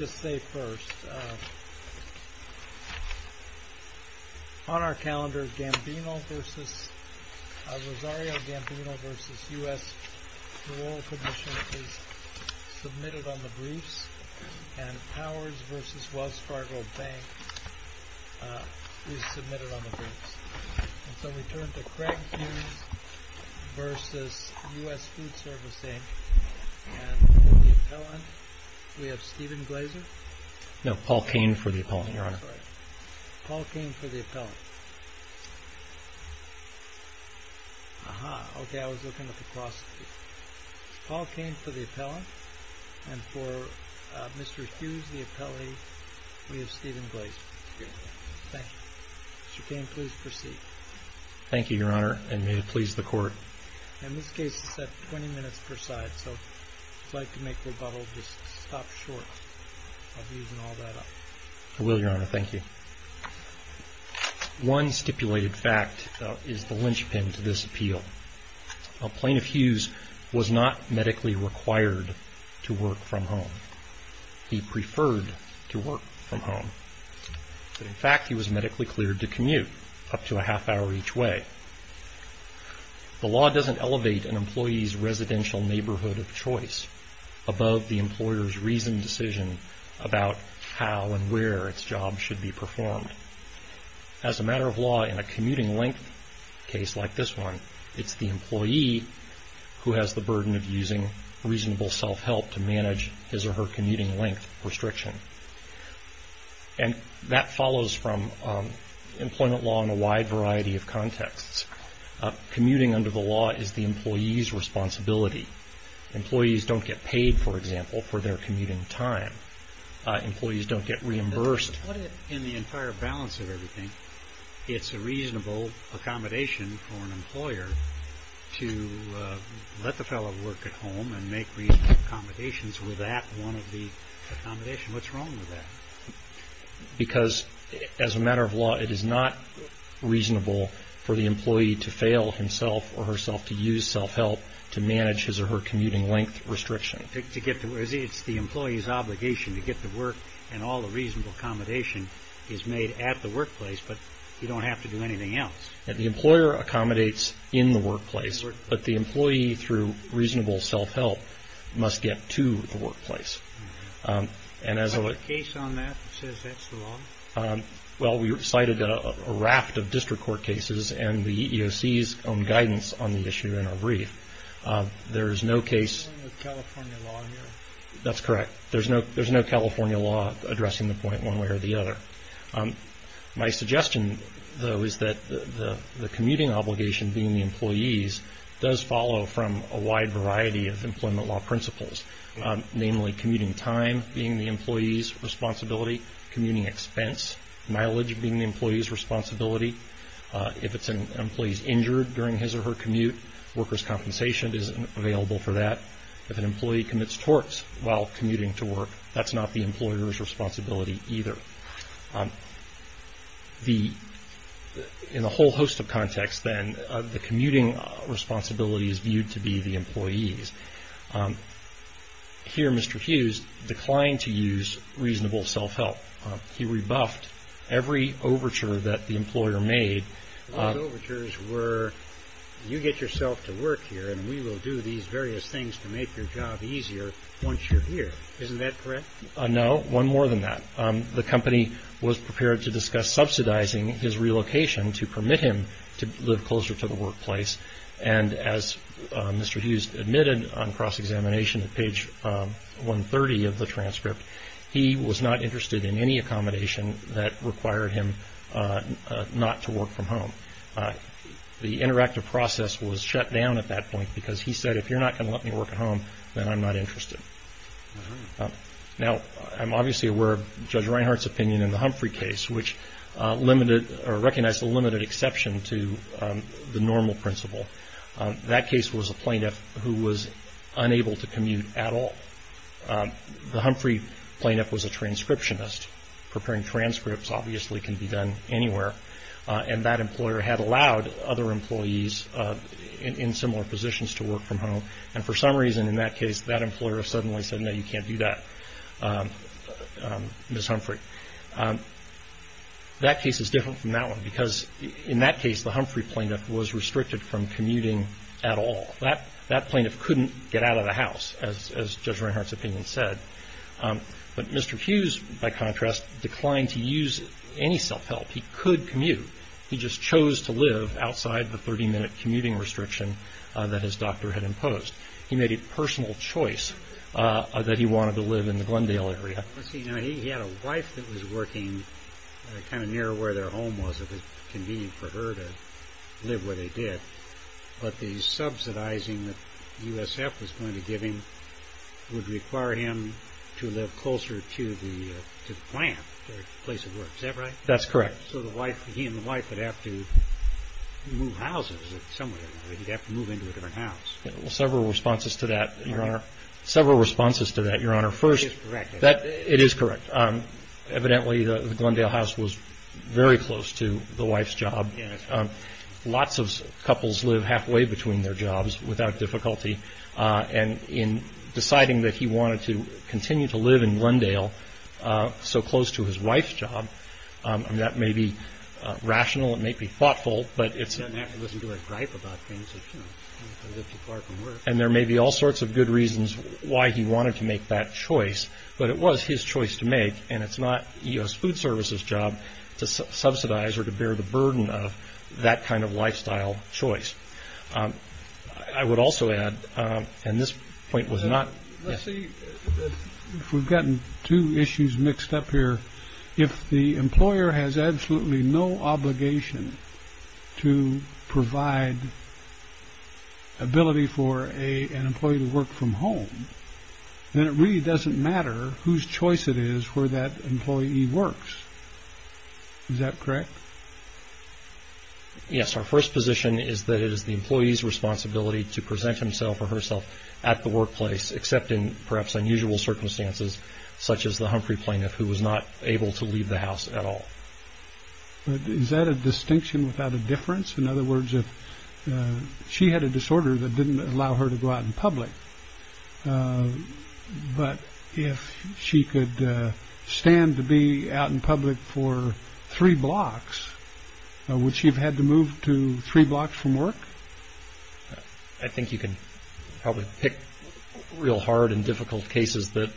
On our calendar, Rosario Gambino v. U.S. Rural Commission is submitted on the briefs, and Powers v. Wells Fargo Bank is submitted on the briefs. Craig Hughes v. U.S. Foodservice, Appellant Stephen Glazer Paul Kane v. Appellant Stephen Glazer One stipulated fact is the linchpin to this appeal. Plaintiff Hughes was not medically required to work from home. He preferred to work from home. In fact, he was medically cleared to commute up to a half hour each way. The law doesn't elevate an employee's residential neighborhood of choice above the employer's reasoned decision about how and where its job should be performed. As a matter of law, in a commuting length case like this one, it's the employee who has the burden of using reasonable self-help to manage his or her commuting length restriction. This follows from employment law in a wide variety of contexts. Commuting under the law is the employee's responsibility. Employees don't get paid, for example, for their commuting time. In the entire balance of everything, it's a reasonable accommodation for an employer to let the fellow work at home and make reasonable accommodations. What's wrong with that? As a matter of law, it is not reasonable for the employee to fail himself or herself to use self-help to manage his or her commuting length restriction. It's the employee's obligation to get to work, and all the reasonable accommodation is made at the workplace, but you don't have to do anything else. The employer accommodates in the workplace, but the employee, through reasonable self-help, must get to the workplace. Is there a case on that that says that's the law? Well, we cited a raft of district court cases and the EEOC's own guidance on the issue in our brief. There is no California law here? That's correct. There's no California law addressing the point one way or the other. My suggestion, though, is that the commuting obligation being the employee's does follow from a wide variety of employment law principles, namely commuting time being the employee's responsibility, commuting expense, mileage being the employee's responsibility. If it's an employee's injured during his or her commute, workers' compensation is available for that. If an employee commits torts while commuting to work, that's not the employer's responsibility either. In a whole host of contexts, then, the commuting responsibility is viewed to be the employee's. Here, Mr. Hughes declined to use reasonable self-help. He rebuffed every overture that the employer made. Those overtures were, you get yourself to work here and we will do these various things to make your job easier once you're here. Isn't that correct? No, one more than that. The company was prepared to discuss subsidizing his relocation to permit him to live closer to the workplace. And as Mr. Hughes admitted on cross-examination at page 130 of the transcript, he was not interested in any accommodation that required him not to work from home. The interactive process was shut down at that point because he said, if you're not going to let me work at home, then I'm not interested. Now, I'm obviously aware of Judge Reinhart's opinion in the Humphrey case, which recognized a limited exception to the normal principle. That case was a plaintiff who was unable to commute at all. The Humphrey plaintiff was a transcriptionist. Preparing transcripts obviously can be done anywhere. And that employer had allowed other employees in similar positions to work from home. And for some reason in that case, that employer suddenly said, no, you can't do that, Ms. Humphrey. That case is different from that one because in that case, the Humphrey plaintiff was restricted from commuting at all. That plaintiff couldn't get out of the house, as Judge Reinhart's opinion said. But Mr. Hughes, by contrast, declined to use any self-help. He could commute. He just chose to live outside the 30-minute commuting restriction that his doctor had imposed. He made a personal choice that he wanted to live in the Glendale area. He had a wife that was working kind of near where their home was. It was convenient for her to live where they did. But the subsidizing that USF was going to give him would require him to live closer to the plant, their place of work. Is that right? That's correct. So he and the wife would have to move houses somewhere. They'd have to move into a different house. Well, several responses to that, Your Honor. Several responses to that, Your Honor. First, it is correct. Evidently, the Glendale house was very close to the wife's job. Lots of couples live halfway between their jobs without difficulty. And in deciding that he wanted to continue to live in Glendale so close to his wife's job, that may be rational. It may be thoughtful, but it's not naturalistic. He wasn't very gripe about things. And there may be all sorts of good reasons why he wanted to make that choice, but it was his choice to make. And it's not U.S. Food Service's job to subsidize or to bear the burden of that kind of lifestyle choice. I would also add, and this point was not. We've gotten two issues mixed up here. If the employer has absolutely no obligation to provide ability for an employee to work from home, then it really doesn't matter whose choice it is where that employee works. Is that correct? Yes, our first position is that it is the employee's responsibility to present himself or herself at the workplace, except in perhaps unusual circumstances, such as the Humphrey plaintiff, who was not able to leave the house at all. Is that a distinction without a difference? In other words, if she had a disorder that didn't allow her to go out in public, but if she could stand to be out in public for three blocks, would she have had to move to three blocks from work? I think you can probably pick real hard and difficult cases that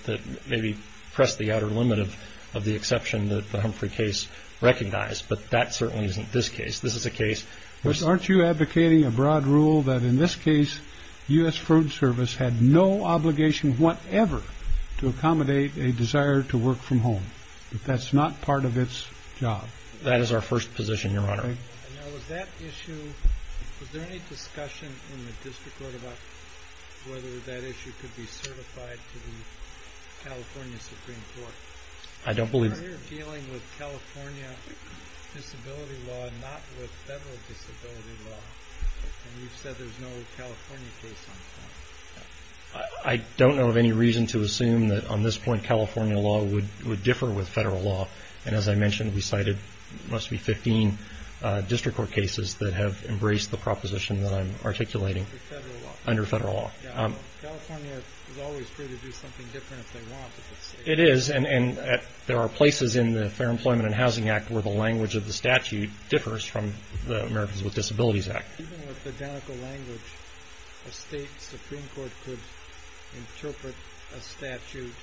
maybe press the outer limit of the exception that the Humphrey case recognized. But that certainly isn't this case. This is a case. Aren't you advocating a broad rule that in this case, U.S. Food Service had no obligation whatever to accommodate a desire to work from home? That's not part of its job. That is our first position, Your Honor. Was there any discussion in the district court about whether that issue could be certified to the California Supreme Court? Are you dealing with California disability law and not with federal disability law? And you've said there's no California case on the front. I don't know of any reason to assume that on this point California law would differ with federal law. And as I mentioned, we cited, it must be 15 district court cases that have embraced the proposition that I'm articulating under federal law. California is always free to do something different if they want to. It is. And there are places in the Fair Employment and Housing Act where the language of the statute differs from the Americans with Disabilities Act. Even with the identical language, a state supreme court could interpret a statute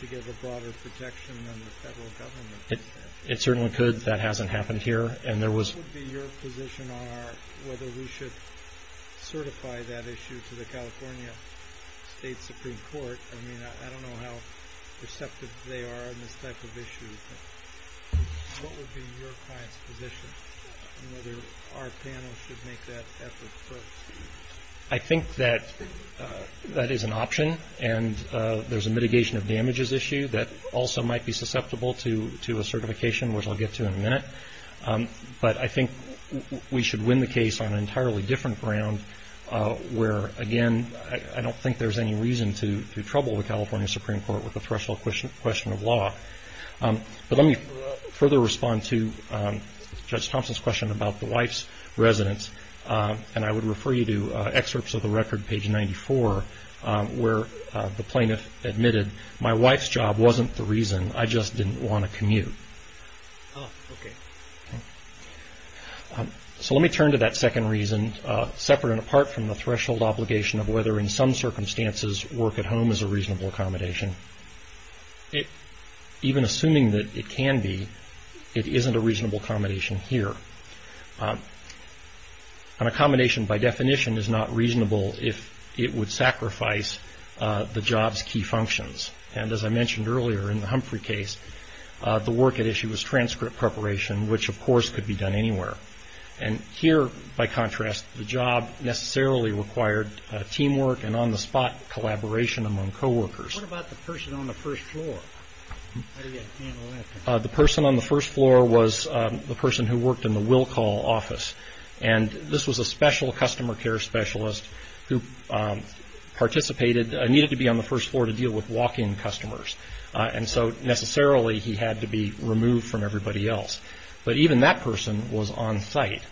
to give a broader protection than the federal government. It certainly could. That hasn't happened here. What would be your position on whether we should certify that issue to the California State Supreme Court? I mean, I don't know how receptive they are on this type of issue. What would be your client's position on whether our panel should make that effort first? I think that that is an option. And there's a mitigation of damages issue that also might be susceptible to a certification, which I'll get to in a minute. But I think we should win the case on an entirely different ground where, again, I don't think there's any reason to trouble the California Supreme Court with the threshold question of law. But let me further respond to Judge Thompson's question about the wife's residence. And I would refer you to excerpts of the record, page 94, where the plaintiff admitted, my wife's job wasn't the reason, I just didn't want to commute. So let me turn to that second reason, separate and apart from the threshold obligation of whether, in some circumstances, work at home is a reasonable accommodation. Even assuming that it can be, it isn't a reasonable accommodation here. An accommodation, by definition, is not reasonable if it would sacrifice the job's key functions. And as I mentioned earlier in the Humphrey case, the work at issue was transcript preparation, which, of course, could be done anywhere. And here, by contrast, the job necessarily required teamwork and on-the-spot collaboration among coworkers. What about the person on the first floor? The person on the first floor was the person who worked in the Will Call office. And this was a special customer care specialist who participated, needed to be on the first floor to deal with walk-in customers. And so, necessarily, he had to be removed from everybody else. But even that person was on-site.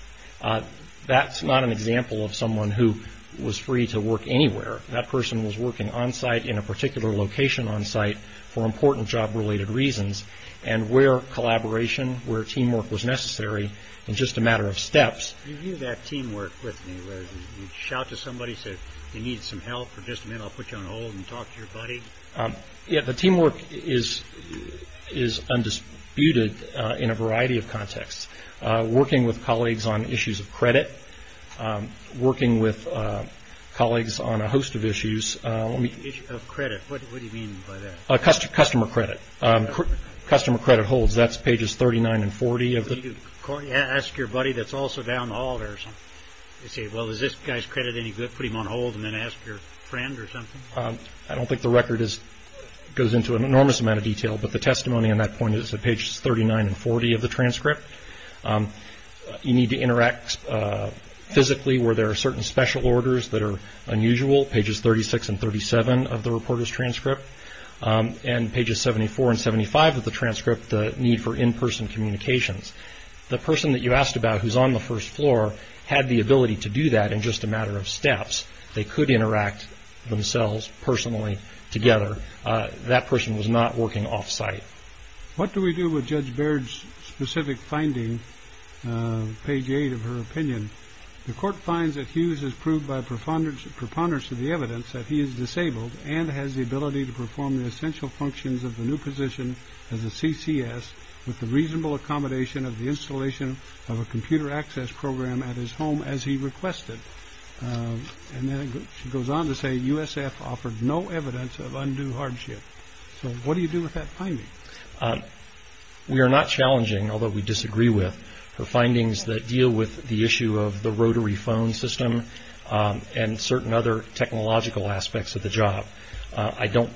That's not an example of someone who was free to work anywhere. That person was working on-site in a particular location on-site for important job-related reasons. And where collaboration, where teamwork was necessary, was just a matter of steps. Can you view that teamwork with me, where you'd shout to somebody, say, you need some help, or just a minute, I'll put you on hold and talk to your buddy? Yeah, the teamwork is undisputed in a variety of contexts. Working with colleagues on issues of credit, working with colleagues on a host of issues. Issue of credit, what do you mean by that? Customer credit, customer credit holds. That's pages 39 and 40. Ask your buddy that's also down the hall there. Say, well, is this guy's credit any good? Put him on hold and then ask your friend or something? I don't think the record goes into an enormous amount of detail, but the testimony on that point is at pages 39 and 40 of the transcript. You need to interact physically where there are certain special orders that are unusual, pages 36 and 37 of the reporter's transcript, and pages 74 and 75 of the transcript, the need for in-person communications. The person that you asked about who's on the first floor had the ability to do that in just a matter of steps. They could interact themselves personally together. That person was not working off-site. What do we do with Judge Baird's specific finding, page 8 of her opinion? The court finds that Hughes has proved by preponderance of the evidence that he is disabled and has the ability to perform the essential functions of the new position as a CCS with the reasonable accommodation of the installation of a computer access program at his home as he requested. And then she goes on to say USF offered no evidence of undue hardship. So what do you do with that finding? We are not challenging, although we disagree with, her findings that deal with the issue of the rotary phone system and certain other technological aspects of the job. I don't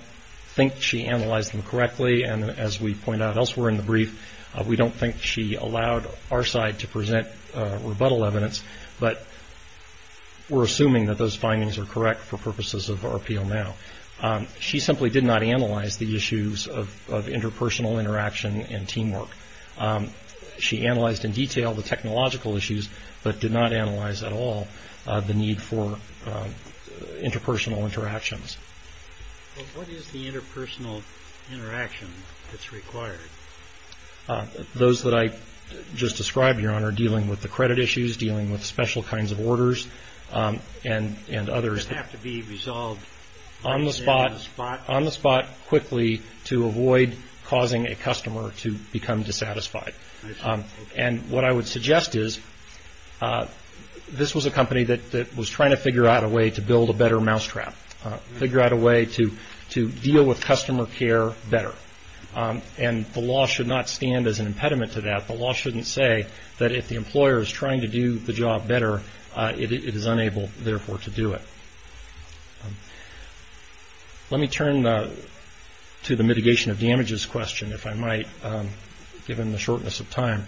think she analyzed them correctly, and as we point out elsewhere in the brief, we don't think she allowed our side to present rebuttal evidence. But we're assuming that those findings are correct for purposes of RPO now. She simply did not analyze the issues of interpersonal interaction and teamwork. She analyzed in detail the technological issues, but did not analyze at all the need for interpersonal interactions. What is the interpersonal interaction that's required? Those that I just described, Your Honor, dealing with the credit issues, dealing with special kinds of orders and others. Does it have to be resolved on the spot? On the spot quickly to avoid causing a customer to become dissatisfied. And what I would suggest is this was a company that was trying to figure out a way to build a better mousetrap, figure out a way to deal with customer care better. And the law should not stand as an impediment to that. The law shouldn't say that if the employer is trying to do the job better, it is unable, therefore, to do it. Let me turn to the mitigation of damages question, if I might, given the shortness of time.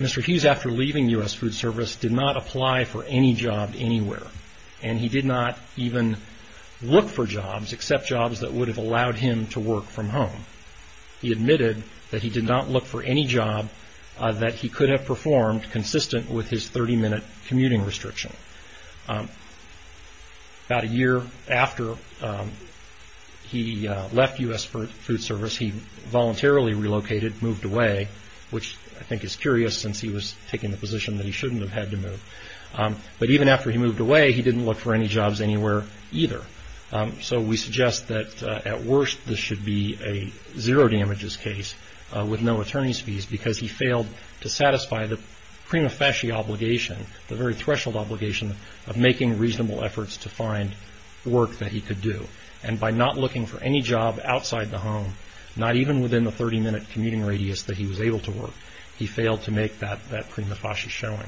Mr. Hughes, after leaving U.S. Food Service, did not apply for any job anywhere, and he did not even look for jobs except jobs that would have allowed him to work from home. He admitted that he did not look for any job that he could have performed consistent with his 30-minute commuting restriction. About a year after he left U.S. Food Service, he voluntarily relocated, moved away, which I think is curious since he was taking the position that he shouldn't have had to move. But even after he moved away, he didn't look for any jobs anywhere either. So we suggest that at worst this should be a zero damages case with no attorney's fees because he failed to satisfy the prima facie obligation, the very threshold obligation of making reasonable efforts to find work that he could do. And by not looking for any job outside the home, not even within the 30-minute commuting radius that he was able to work, he failed to make that prima facie showing.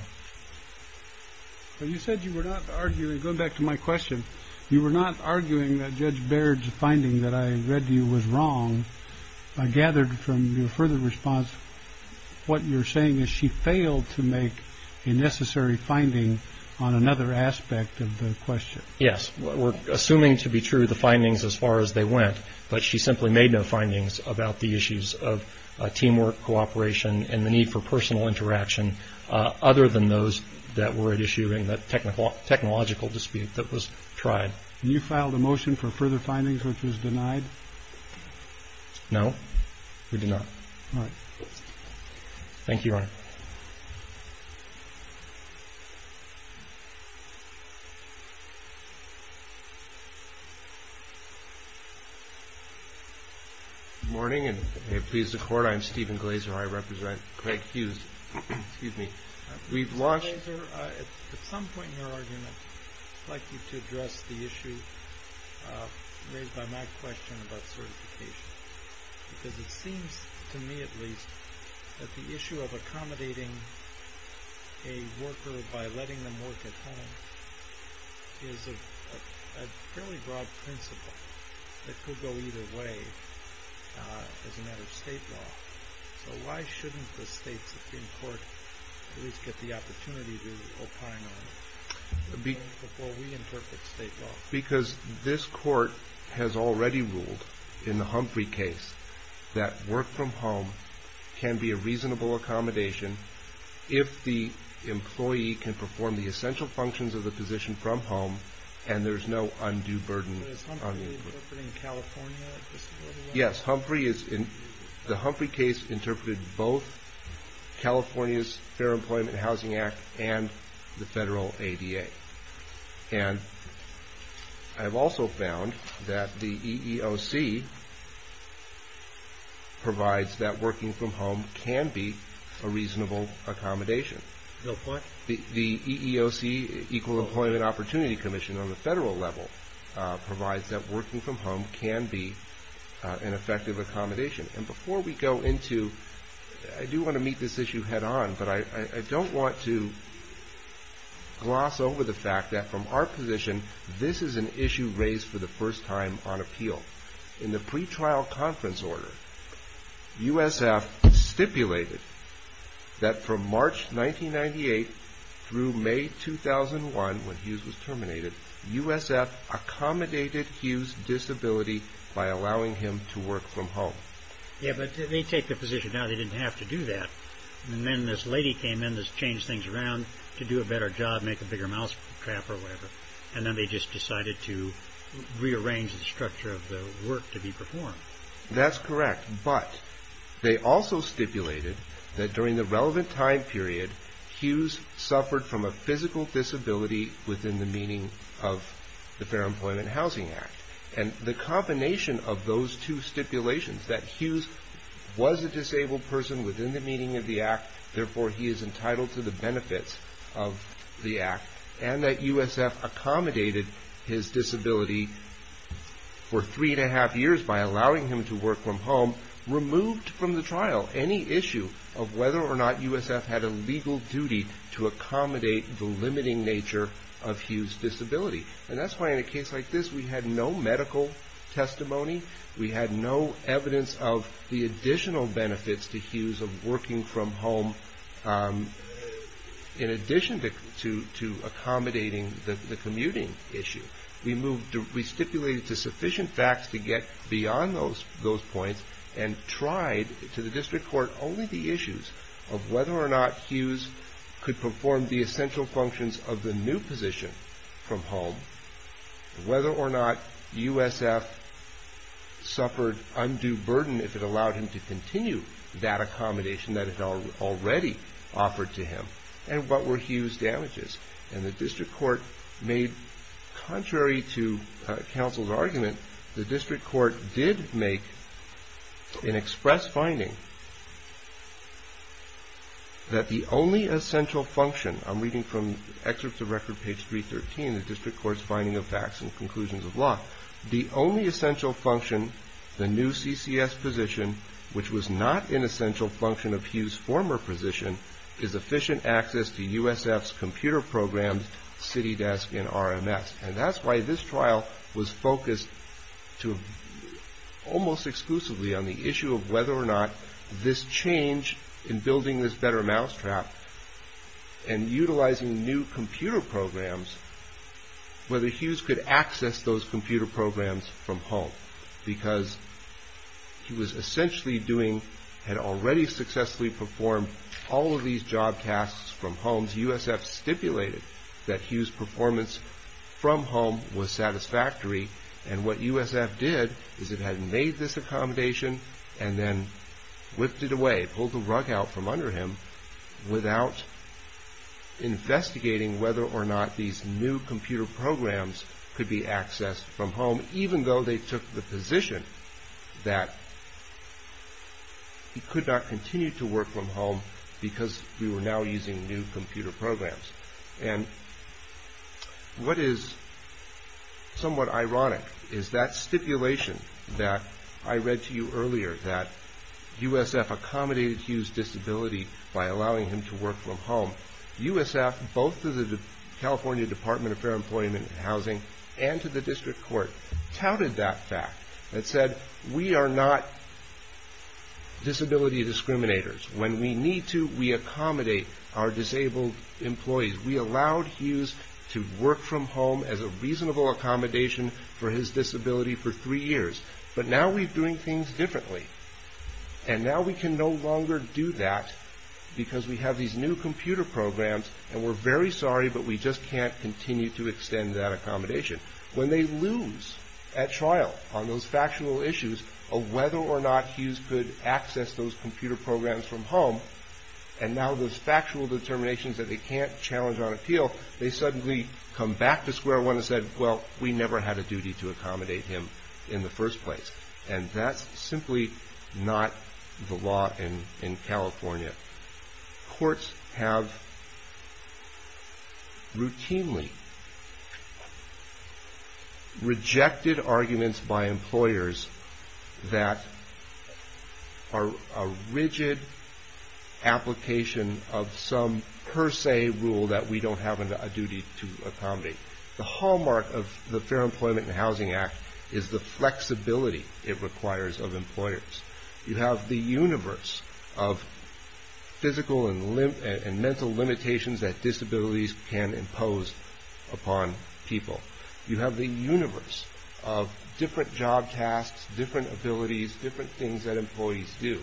But you said you were not arguing, going back to my question, you were not arguing that Judge Baird's finding that I read to you was wrong. I gathered from your further response what you're saying is she failed to make a necessary finding on another aspect of the question. Yes, we're assuming to be true the findings as far as they went, but she simply made no findings about the issues of teamwork, cooperation, and the need for personal interaction other than those that were at issue in the technological dispute that was tried. You filed a motion for further findings, which was denied? No, we did not. All right. Thank you, Your Honor. Good morning, and may it please the Court, I'm Stephen Glazer, I represent Craig Hughes. Excuse me. Mr. Glazer, at some point in your argument, I'd like you to address the issue raised by my question about certification, because it seems to me at least that the issue of accommodating a worker by letting them work at home is a fairly broad principle that could go either way as a matter of state law. So why shouldn't the states in court at least get the opportunity to opine on it before we interpret state law? Because this Court has already ruled in the Humphrey case that work from home can be a reasonable accommodation if the employee can perform the essential functions of the position from home and there's no undue burden on the employee. So is Humphrey interpreting California? Yes, the Humphrey case interpreted both California's Fair Employment and Housing Act and the federal ADA. And I've also found that the EEOC provides that working from home can be a reasonable accommodation. The what? The EEOC, Equal Employment Opportunity Commission on the federal level, provides that working from home can be an effective accommodation. And before we go into, I do want to meet this issue head on, but I don't want to gloss over the fact that from our position, this is an issue raised for the first time on appeal. In the pretrial conference order, USF stipulated that from March 1998 through May 2001, when Hughes was terminated, USF accommodated Hughes' disability by allowing him to work from home. Yeah, but they take the position now they didn't have to do that. And then this lady came in and changed things around to do a better job, make a bigger mousetrap or whatever. And then they just decided to rearrange the structure of the work to be performed. That's correct. But they also stipulated that during the relevant time period, Hughes suffered from a physical disability within the meaning of the Fair Employment and Housing Act. And the combination of those two stipulations, that Hughes was a disabled person within the meaning of the act, therefore he is entitled to the benefits of the act, and that USF accommodated his disability for three and a half years by allowing him to work from home, removed from the trial any issue of whether or not USF had a legal duty to accommodate the limiting nature of Hughes' disability. And that's why in a case like this, we had no medical testimony. We had no evidence of the additional benefits to Hughes of working from home, in addition to accommodating the commuting issue. We stipulated sufficient facts to get beyond those points, and tried to the district court only the issues of whether or not Hughes could perform the essential functions of the new position from home, whether or not USF suffered undue burden if it allowed him to continue that accommodation that it had already offered to him, and what were Hughes' damages. And the district court made, contrary to counsel's argument, the district court did make an express finding that the only essential function, I'm reading from excerpts of record page 313, the district court's finding of facts and conclusions of law, the only essential function, the new CCS position, which was not an essential function of Hughes' former position, is efficient access to USF's computer programs, CityDesk, and RMS. And that's why this trial was focused to almost exclusively on the issue of whether or not this change in building this better mousetrap, and utilizing new computer programs, whether Hughes could access those computer programs from home, because he was essentially doing, had already successfully performed all of these job tasks from home. USF stipulated that Hughes' performance from home was satisfactory, and what USF did is it had made this accommodation and then lifted away, pulled the rug out from under him, without investigating whether or not these new computer programs could be accessed from home, even though they took the position that he could not continue to work from home because we were now using new computer programs. And what is somewhat ironic is that stipulation that I read to you earlier, that USF accommodated Hughes' disability by allowing him to work from home. USF, both to the California Department of Fair Employment and Housing and to the District Court, touted that fact and said, we are not disability discriminators. When we need to, we accommodate our disabled employees. We allowed Hughes to work from home as a reasonable accommodation for his disability for three years. But now we're doing things differently. And now we can no longer do that because we have these new computer programs, and we're very sorry, but we just can't continue to extend that accommodation. When they lose at trial on those factual issues of whether or not Hughes could access those computer programs from home, and now those factual determinations that they can't challenge on appeal, they suddenly come back to square one and say, well, we never had a duty to accommodate him in the first place. And that's simply not the law in California. Courts have routinely rejected arguments by employers that are a rigid application of some per se rule that we don't have a duty to accommodate. The hallmark of the Fair Employment and Housing Act is the flexibility it requires of employers. You have the universe of physical and mental limitations that disabilities can impose upon people. You have the universe of different job tasks, different abilities, different things that employees do.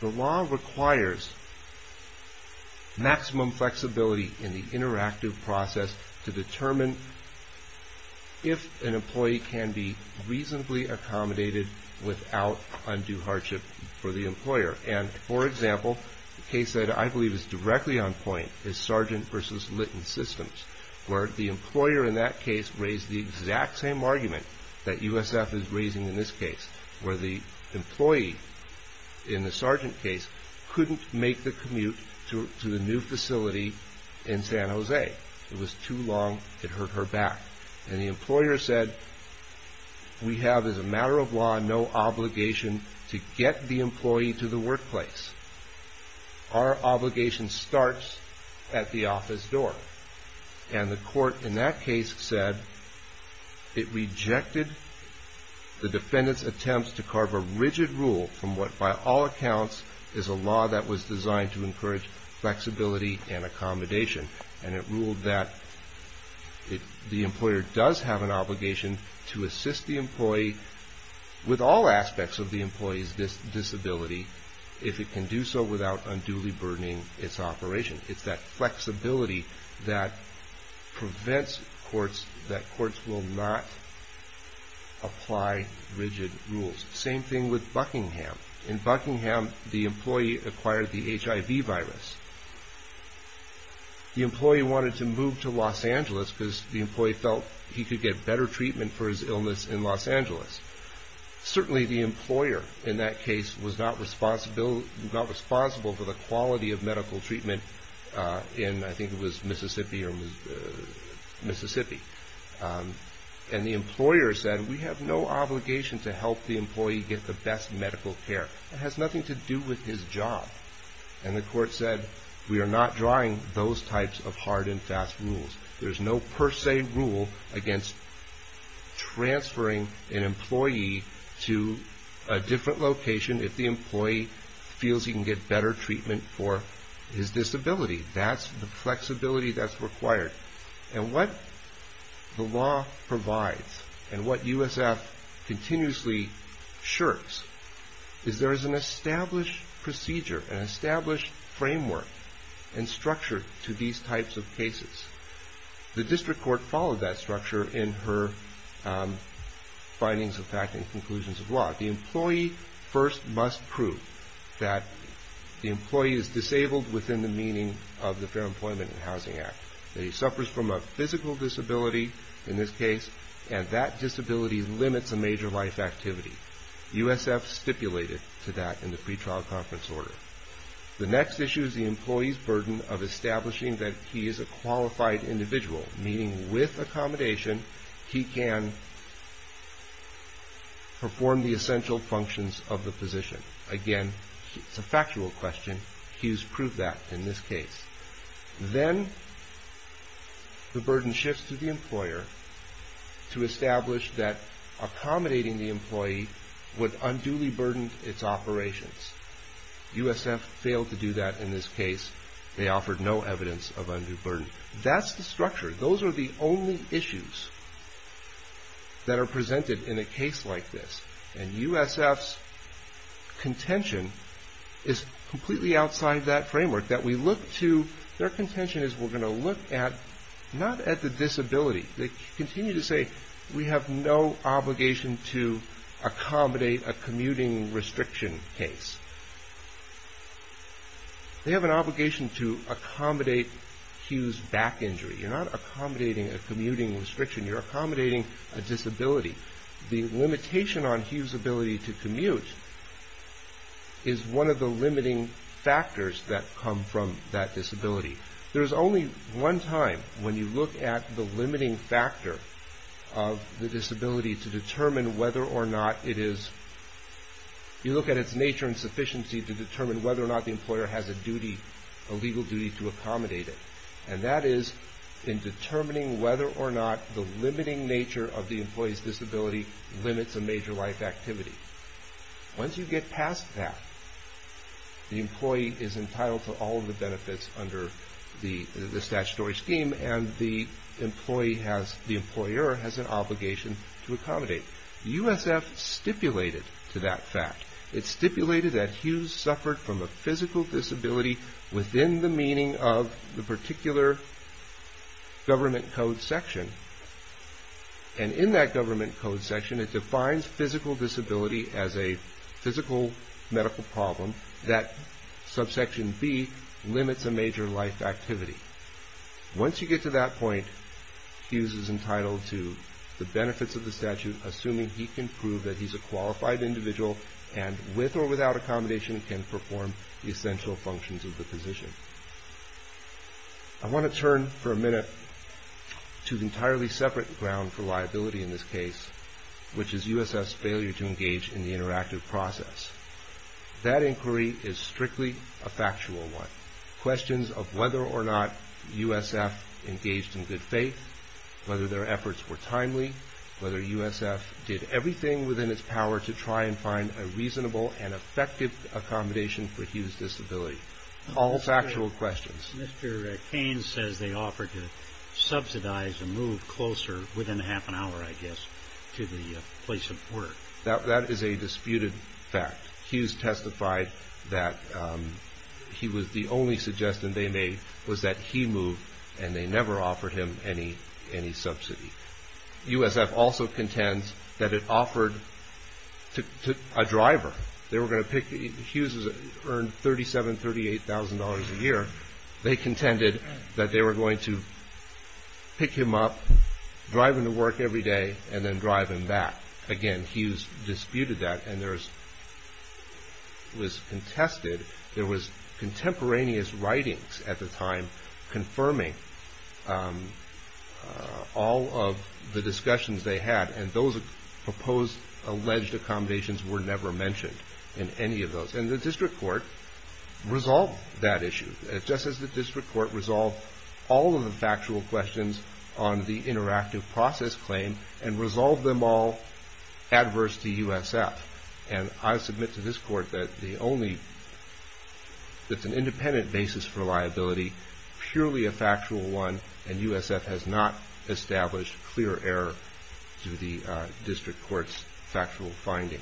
The law requires maximum flexibility in the interactive process to determine if an employee can be reasonably accommodated without undue hardship for the employer. And, for example, the case that I believe is directly on point is Sargent v. Litton Systems, where the employer in that case raised the exact same argument that USF is raising in this case, where the employee in the Sargent case couldn't make the commute to the new facility in San Jose. It was too long. It hurt her back. And the employer said, we have, as a matter of law, no obligation to get the employee to the workplace. Our obligation starts at the office door. And the court in that case said it rejected the defendant's attempts to carve a rigid rule from what, by all accounts, is a law that was designed to encourage flexibility and accommodation. And it ruled that the employer does have an obligation to assist the employee with all aspects of the employee's disability if it can do so without unduly burdening its operation. It's that flexibility that prevents courts, that courts will not apply rigid rules. Same thing with Buckingham. In Buckingham, the employee acquired the HIV virus. The employee wanted to move to Los Angeles because the employee felt he could get better treatment for his illness in Los Angeles. Certainly, the employer in that case was not responsible for the quality of medical treatment in, I think it was Mississippi. And the employer said, we have no obligation to help the employee get the best medical care. It has nothing to do with his job. And the court said, we are not drawing those types of hard and fast rules. There's no per se rule against transferring an employee to a different location if the employee feels he can get better treatment for his disability. That's the flexibility that's required. And what the law provides and what USF continuously shirks is there is an established procedure, an established framework and structure to these types of cases. The district court followed that structure in her findings of fact and conclusions of law. The employee first must prove that the employee is disabled within the meaning of the Fair Employment and Housing Act. That he suffers from a physical disability, in this case, and that disability limits a major life activity. USF stipulated to that in the pretrial conference order. The next issue is the employee's burden of establishing that he is a qualified individual, meaning with accommodation, he can perform the essential functions of the position. Again, it's a factual question. Hughes proved that in this case. Then the burden shifts to the employer to establish that accommodating the employee would unduly burden its operations. USF failed to do that in this case. They offered no evidence of undue burden. That's the structure. Those are the only issues that are presented in a case like this. And USF's contention is completely outside that framework. Their contention is we're going to look at, not at the disability. They continue to say we have no obligation to accommodate a commuting restriction case. They have an obligation to accommodate Hughes' back injury. You're not accommodating a commuting restriction. You're accommodating a disability. The limitation on Hughes' ability to commute is one of the limiting factors that come from that disability. There's only one time when you look at the limiting factor of the disability to determine whether or not it is, you look at its nature and sufficiency to determine whether or not the employer has a duty, a legal duty to accommodate it. And that is in determining whether or not the limiting nature of the employee's disability limits a major life activity. Once you get past that, the employee is entitled to all of the benefits under the statutory scheme and the employer has an obligation to accommodate. USF stipulated to that fact. It stipulated that Hughes suffered from a physical disability within the meaning of the particular government code section. And in that government code section it defines physical disability as a physical medical problem that subsection B limits a major life activity. Once you get to that point, Hughes is entitled to the benefits of the statute assuming he can prove that he's a qualified individual and with or without accommodation can perform the essential functions of the position. I want to turn for a minute to an entirely separate ground for liability in this case, which is USF's failure to engage in the interactive process. That inquiry is strictly a factual one. Questions of whether or not USF engaged in good faith, whether their efforts were timely, whether USF did everything within its power to try and find a reasonable and effective accommodation for Hughes' disability. All factual questions. Mr. Cain says they offered to subsidize a move closer, within half an hour I guess, to the place of work. That is a disputed fact. Hughes testified that he was the only suggestion they made was that he move and they never offered him any subsidy. USF also contends that it offered a driver. Hughes earned $37,000, $38,000 a year. They contended that they were going to pick him up, drive him to work every day, and then drive him back. Again, Hughes disputed that and was contested. There was contemporaneous writings at the time confirming all of the discussions they had, and those proposed alleged accommodations were never mentioned in any of those. And the district court resolved that issue, just as the district court resolved all of the factual questions on the interactive process claim and resolved them all adverse to USF. And I submit to this court that it's an independent basis for liability, purely a factual one, and USF has not established clear error to the district court's factual findings.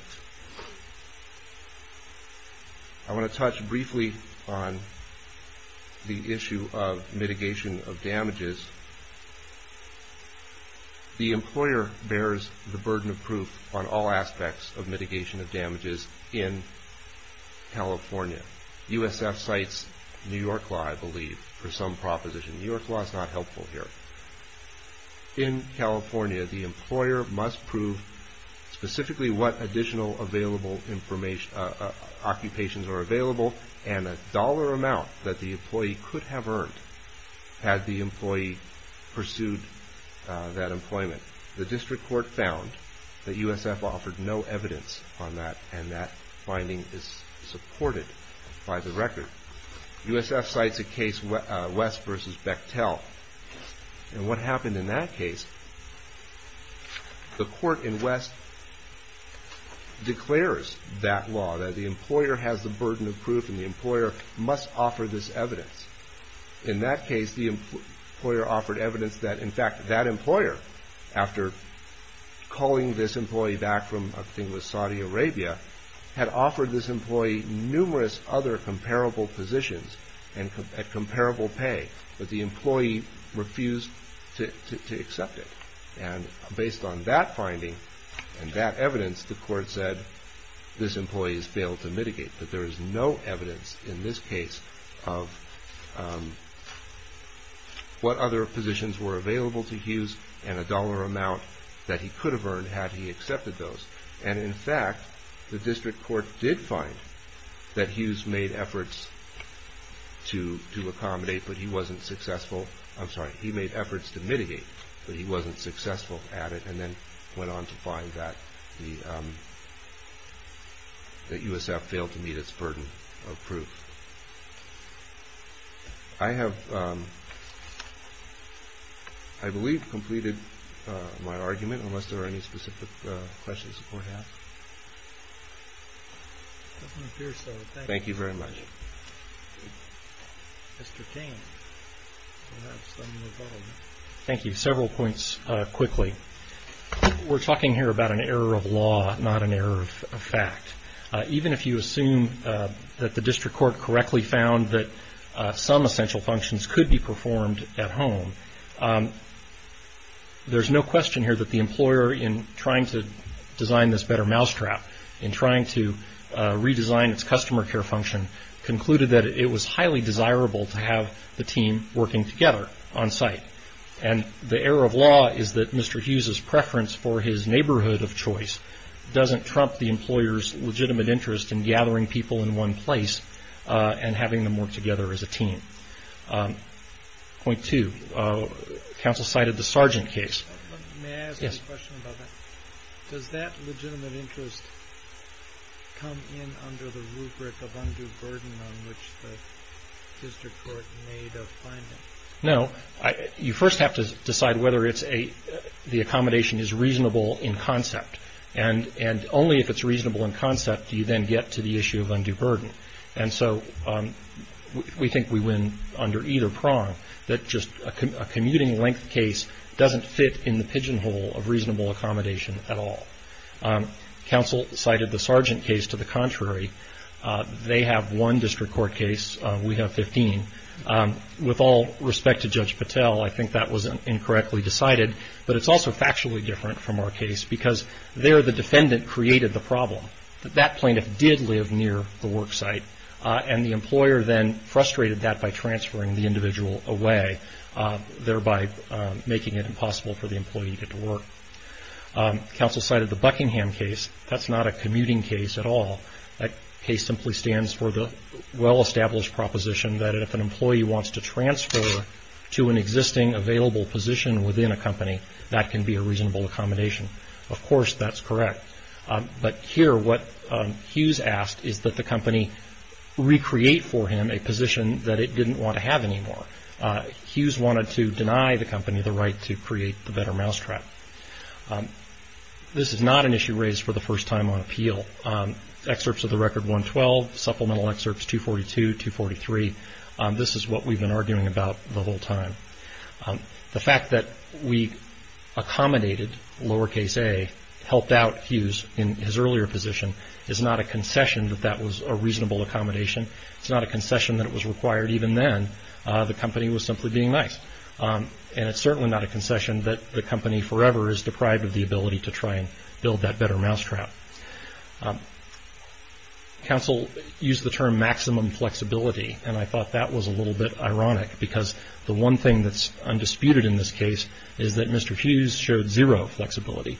I want to touch briefly on the issue of mitigation of damages. The employer bears the burden of proof on all aspects of mitigation of damages in California. USF cites New York law, I believe, for some proposition. New York law is not helpful here. In California, the employer must prove specifically what additional available occupations are available and a dollar amount that the employee could have earned had the employee pursued that employment. The district court found that USF offered no evidence on that, and that finding is supported by the record. USF cites a case, West v. Bechtel, and what happened in that case, the court in West declares that law, that the employer has the burden of proof and the employer must offer this evidence. In that case, the employer offered evidence that, in fact, that employer, after calling this employee back from, I think it was Saudi Arabia, had offered this employee numerous other comparable positions at comparable pay, but the employee refused to accept it. And based on that finding and that evidence, the court said this employee has failed to mitigate, that there is no evidence in this case of what other positions were available to Hughes and a dollar amount that he could have earned had he accepted those. And, in fact, the district court did find that Hughes made efforts to accommodate, but he wasn't successful, I'm sorry, he made efforts to mitigate, but he wasn't successful at it, and then went on to find that USF failed to meet its burden of proof. I have, I believe, completed my argument, unless there are any specific questions beforehand. It doesn't appear so. Thank you. Thank you very much. Mr. Kane, perhaps then we'll follow. Thank you. Several points quickly. We're talking here about an error of law, not an error of fact. Even if you assume that the district court correctly found that some essential functions could be performed at home, there's no question here that the employer, in trying to design this better mousetrap, in trying to redesign its customer care function, concluded that it was highly desirable to have the team working together on site. And the error of law is that Mr. Hughes' preference for his neighborhood of choice doesn't trump the employer's legitimate interest in gathering people in one place and having them work together as a team. Point two, counsel cited the Sargent case. May I ask a question about that? Does that legitimate interest come in under the rubric of undue burden on which the district court made a finding? No. You first have to decide whether the accommodation is reasonable in concept. And only if it's reasonable in concept do you then get to the issue of undue burden. And so we think we win under either prong, that just a commuting length case doesn't fit in the pigeonhole of reasonable accommodation at all. Counsel cited the Sargent case to the contrary. They have one district court case. We have 15. With all respect to Judge Patel, I think that was incorrectly decided, but it's also factually different from our case because there the defendant created the problem. That plaintiff did live near the work site, and the employer then frustrated that by transferring the individual away, thereby making it impossible for the employee to get to work. Counsel cited the Buckingham case. That's not a commuting case at all. That case simply stands for the well-established proposition that if an employee wants to transfer to an existing available position within a company, that can be a reasonable accommodation. Of course, that's correct. But here what Hughes asked is that the company recreate for him a position that it didn't want to have anymore. Hughes wanted to deny the company the right to create the better mousetrap. This is not an issue raised for the first time on appeal. Excerpts of the record 112, supplemental excerpts 242, 243, this is what we've been arguing about the whole time. The fact that we accommodated lowercase a, helped out Hughes in his earlier position, is not a concession that that was a reasonable accommodation. It's not a concession that it was required even then. The company was simply being nice. And it's certainly not a concession that the company forever is deprived of the ability to try and build that better mousetrap. Counsel used the term maximum flexibility, and I thought that was a little bit ironic because the one thing that's undisputed in this case is that Mr. Hughes showed zero flexibility.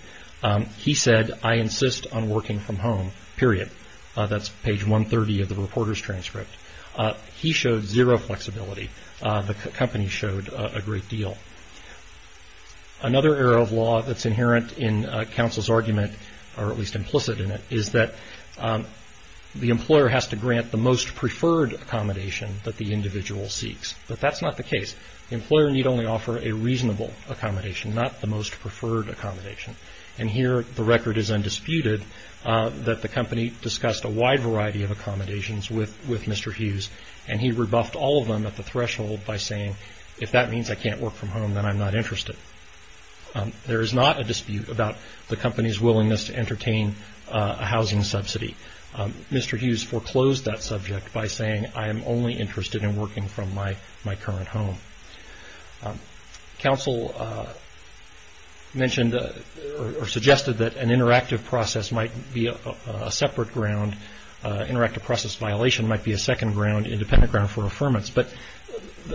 He said, I insist on working from home, period. That's page 130 of the reporter's transcript. He showed zero flexibility. The company showed a great deal. Another error of law that's inherent in counsel's argument, or at least implicit in it, is that the employer has to grant the most preferred accommodation that the individual seeks. But that's not the case. The employer need only offer a reasonable accommodation, not the most preferred accommodation. And here the record is undisputed that the company discussed a wide variety of accommodations with Mr. Hughes, and he rebuffed all of them at the threshold by saying, if that means I can't work from home, then I'm not interested. There is not a dispute about the company's willingness to entertain a housing subsidy. Mr. Hughes foreclosed that subject by saying, I am only interested in working from my current home. Counsel mentioned or suggested that an interactive process might be a separate ground. Interactive process violation might be a second ground, independent ground for affirmance. But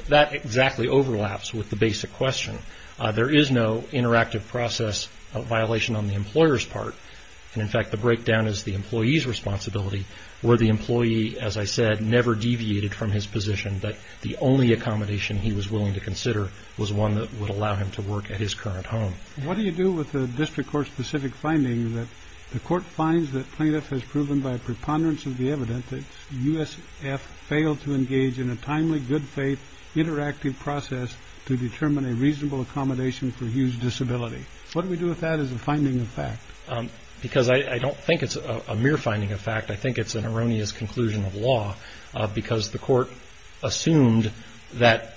that exactly overlaps with the basic question. There is no interactive process violation on the employer's part. And, in fact, the breakdown is the employee's responsibility, where the employee, as I said, never deviated from his position that the only accommodation he was willing to consider was one that would allow him to work at his current home. What do you do with the district court specific findings that the court finds that plaintiff has proven by preponderance of the evidence that USF failed to engage in a timely, good faith, interactive process to determine a reasonable accommodation for his disability? What do we do with that as a finding of fact? Because I don't think it's a mere finding of fact. I think it's an erroneous conclusion of law because the court assumed that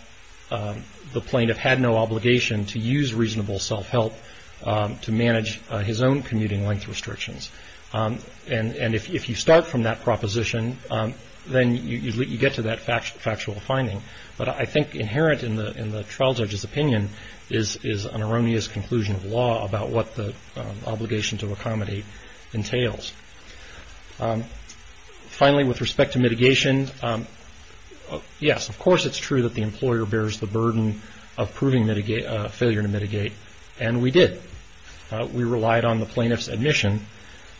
the plaintiff had no obligation to use reasonable self-help to manage his own commuting length restrictions. And if you start from that proposition, then you get to that factual finding. But I think inherent in the trial judge's opinion is an erroneous conclusion of law about what the obligation to accommodate entails. Finally, with respect to mitigation, yes, of course it's true that the employer bears the burden of proving failure to mitigate, and we did. We relied on the plaintiff's admission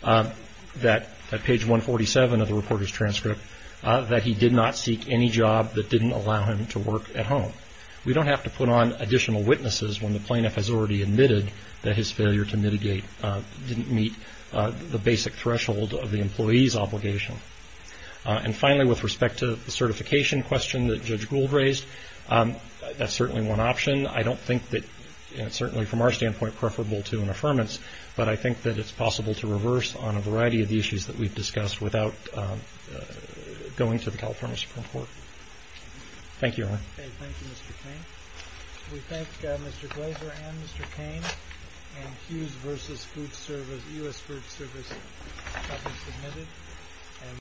that at page 147 of the reporter's transcript that he did not seek any job that didn't allow him to work at home. We don't have to put on additional witnesses when the plaintiff has already admitted that his failure to mitigate didn't meet the basic threshold of the employee's obligation. And finally, with respect to the certification question that Judge Gould raised, that's certainly one option. I don't think that it's certainly from our standpoint preferable to an affirmance, but I think that it's possible to reverse on a variety of the issues that we've discussed without going to the California Supreme Court. Thank you. Thank you, Mr. Cain. We thank Mr. Glazer and Mr. Cain. And Hughes v. Food Service, U.S. Food Service, has been submitted.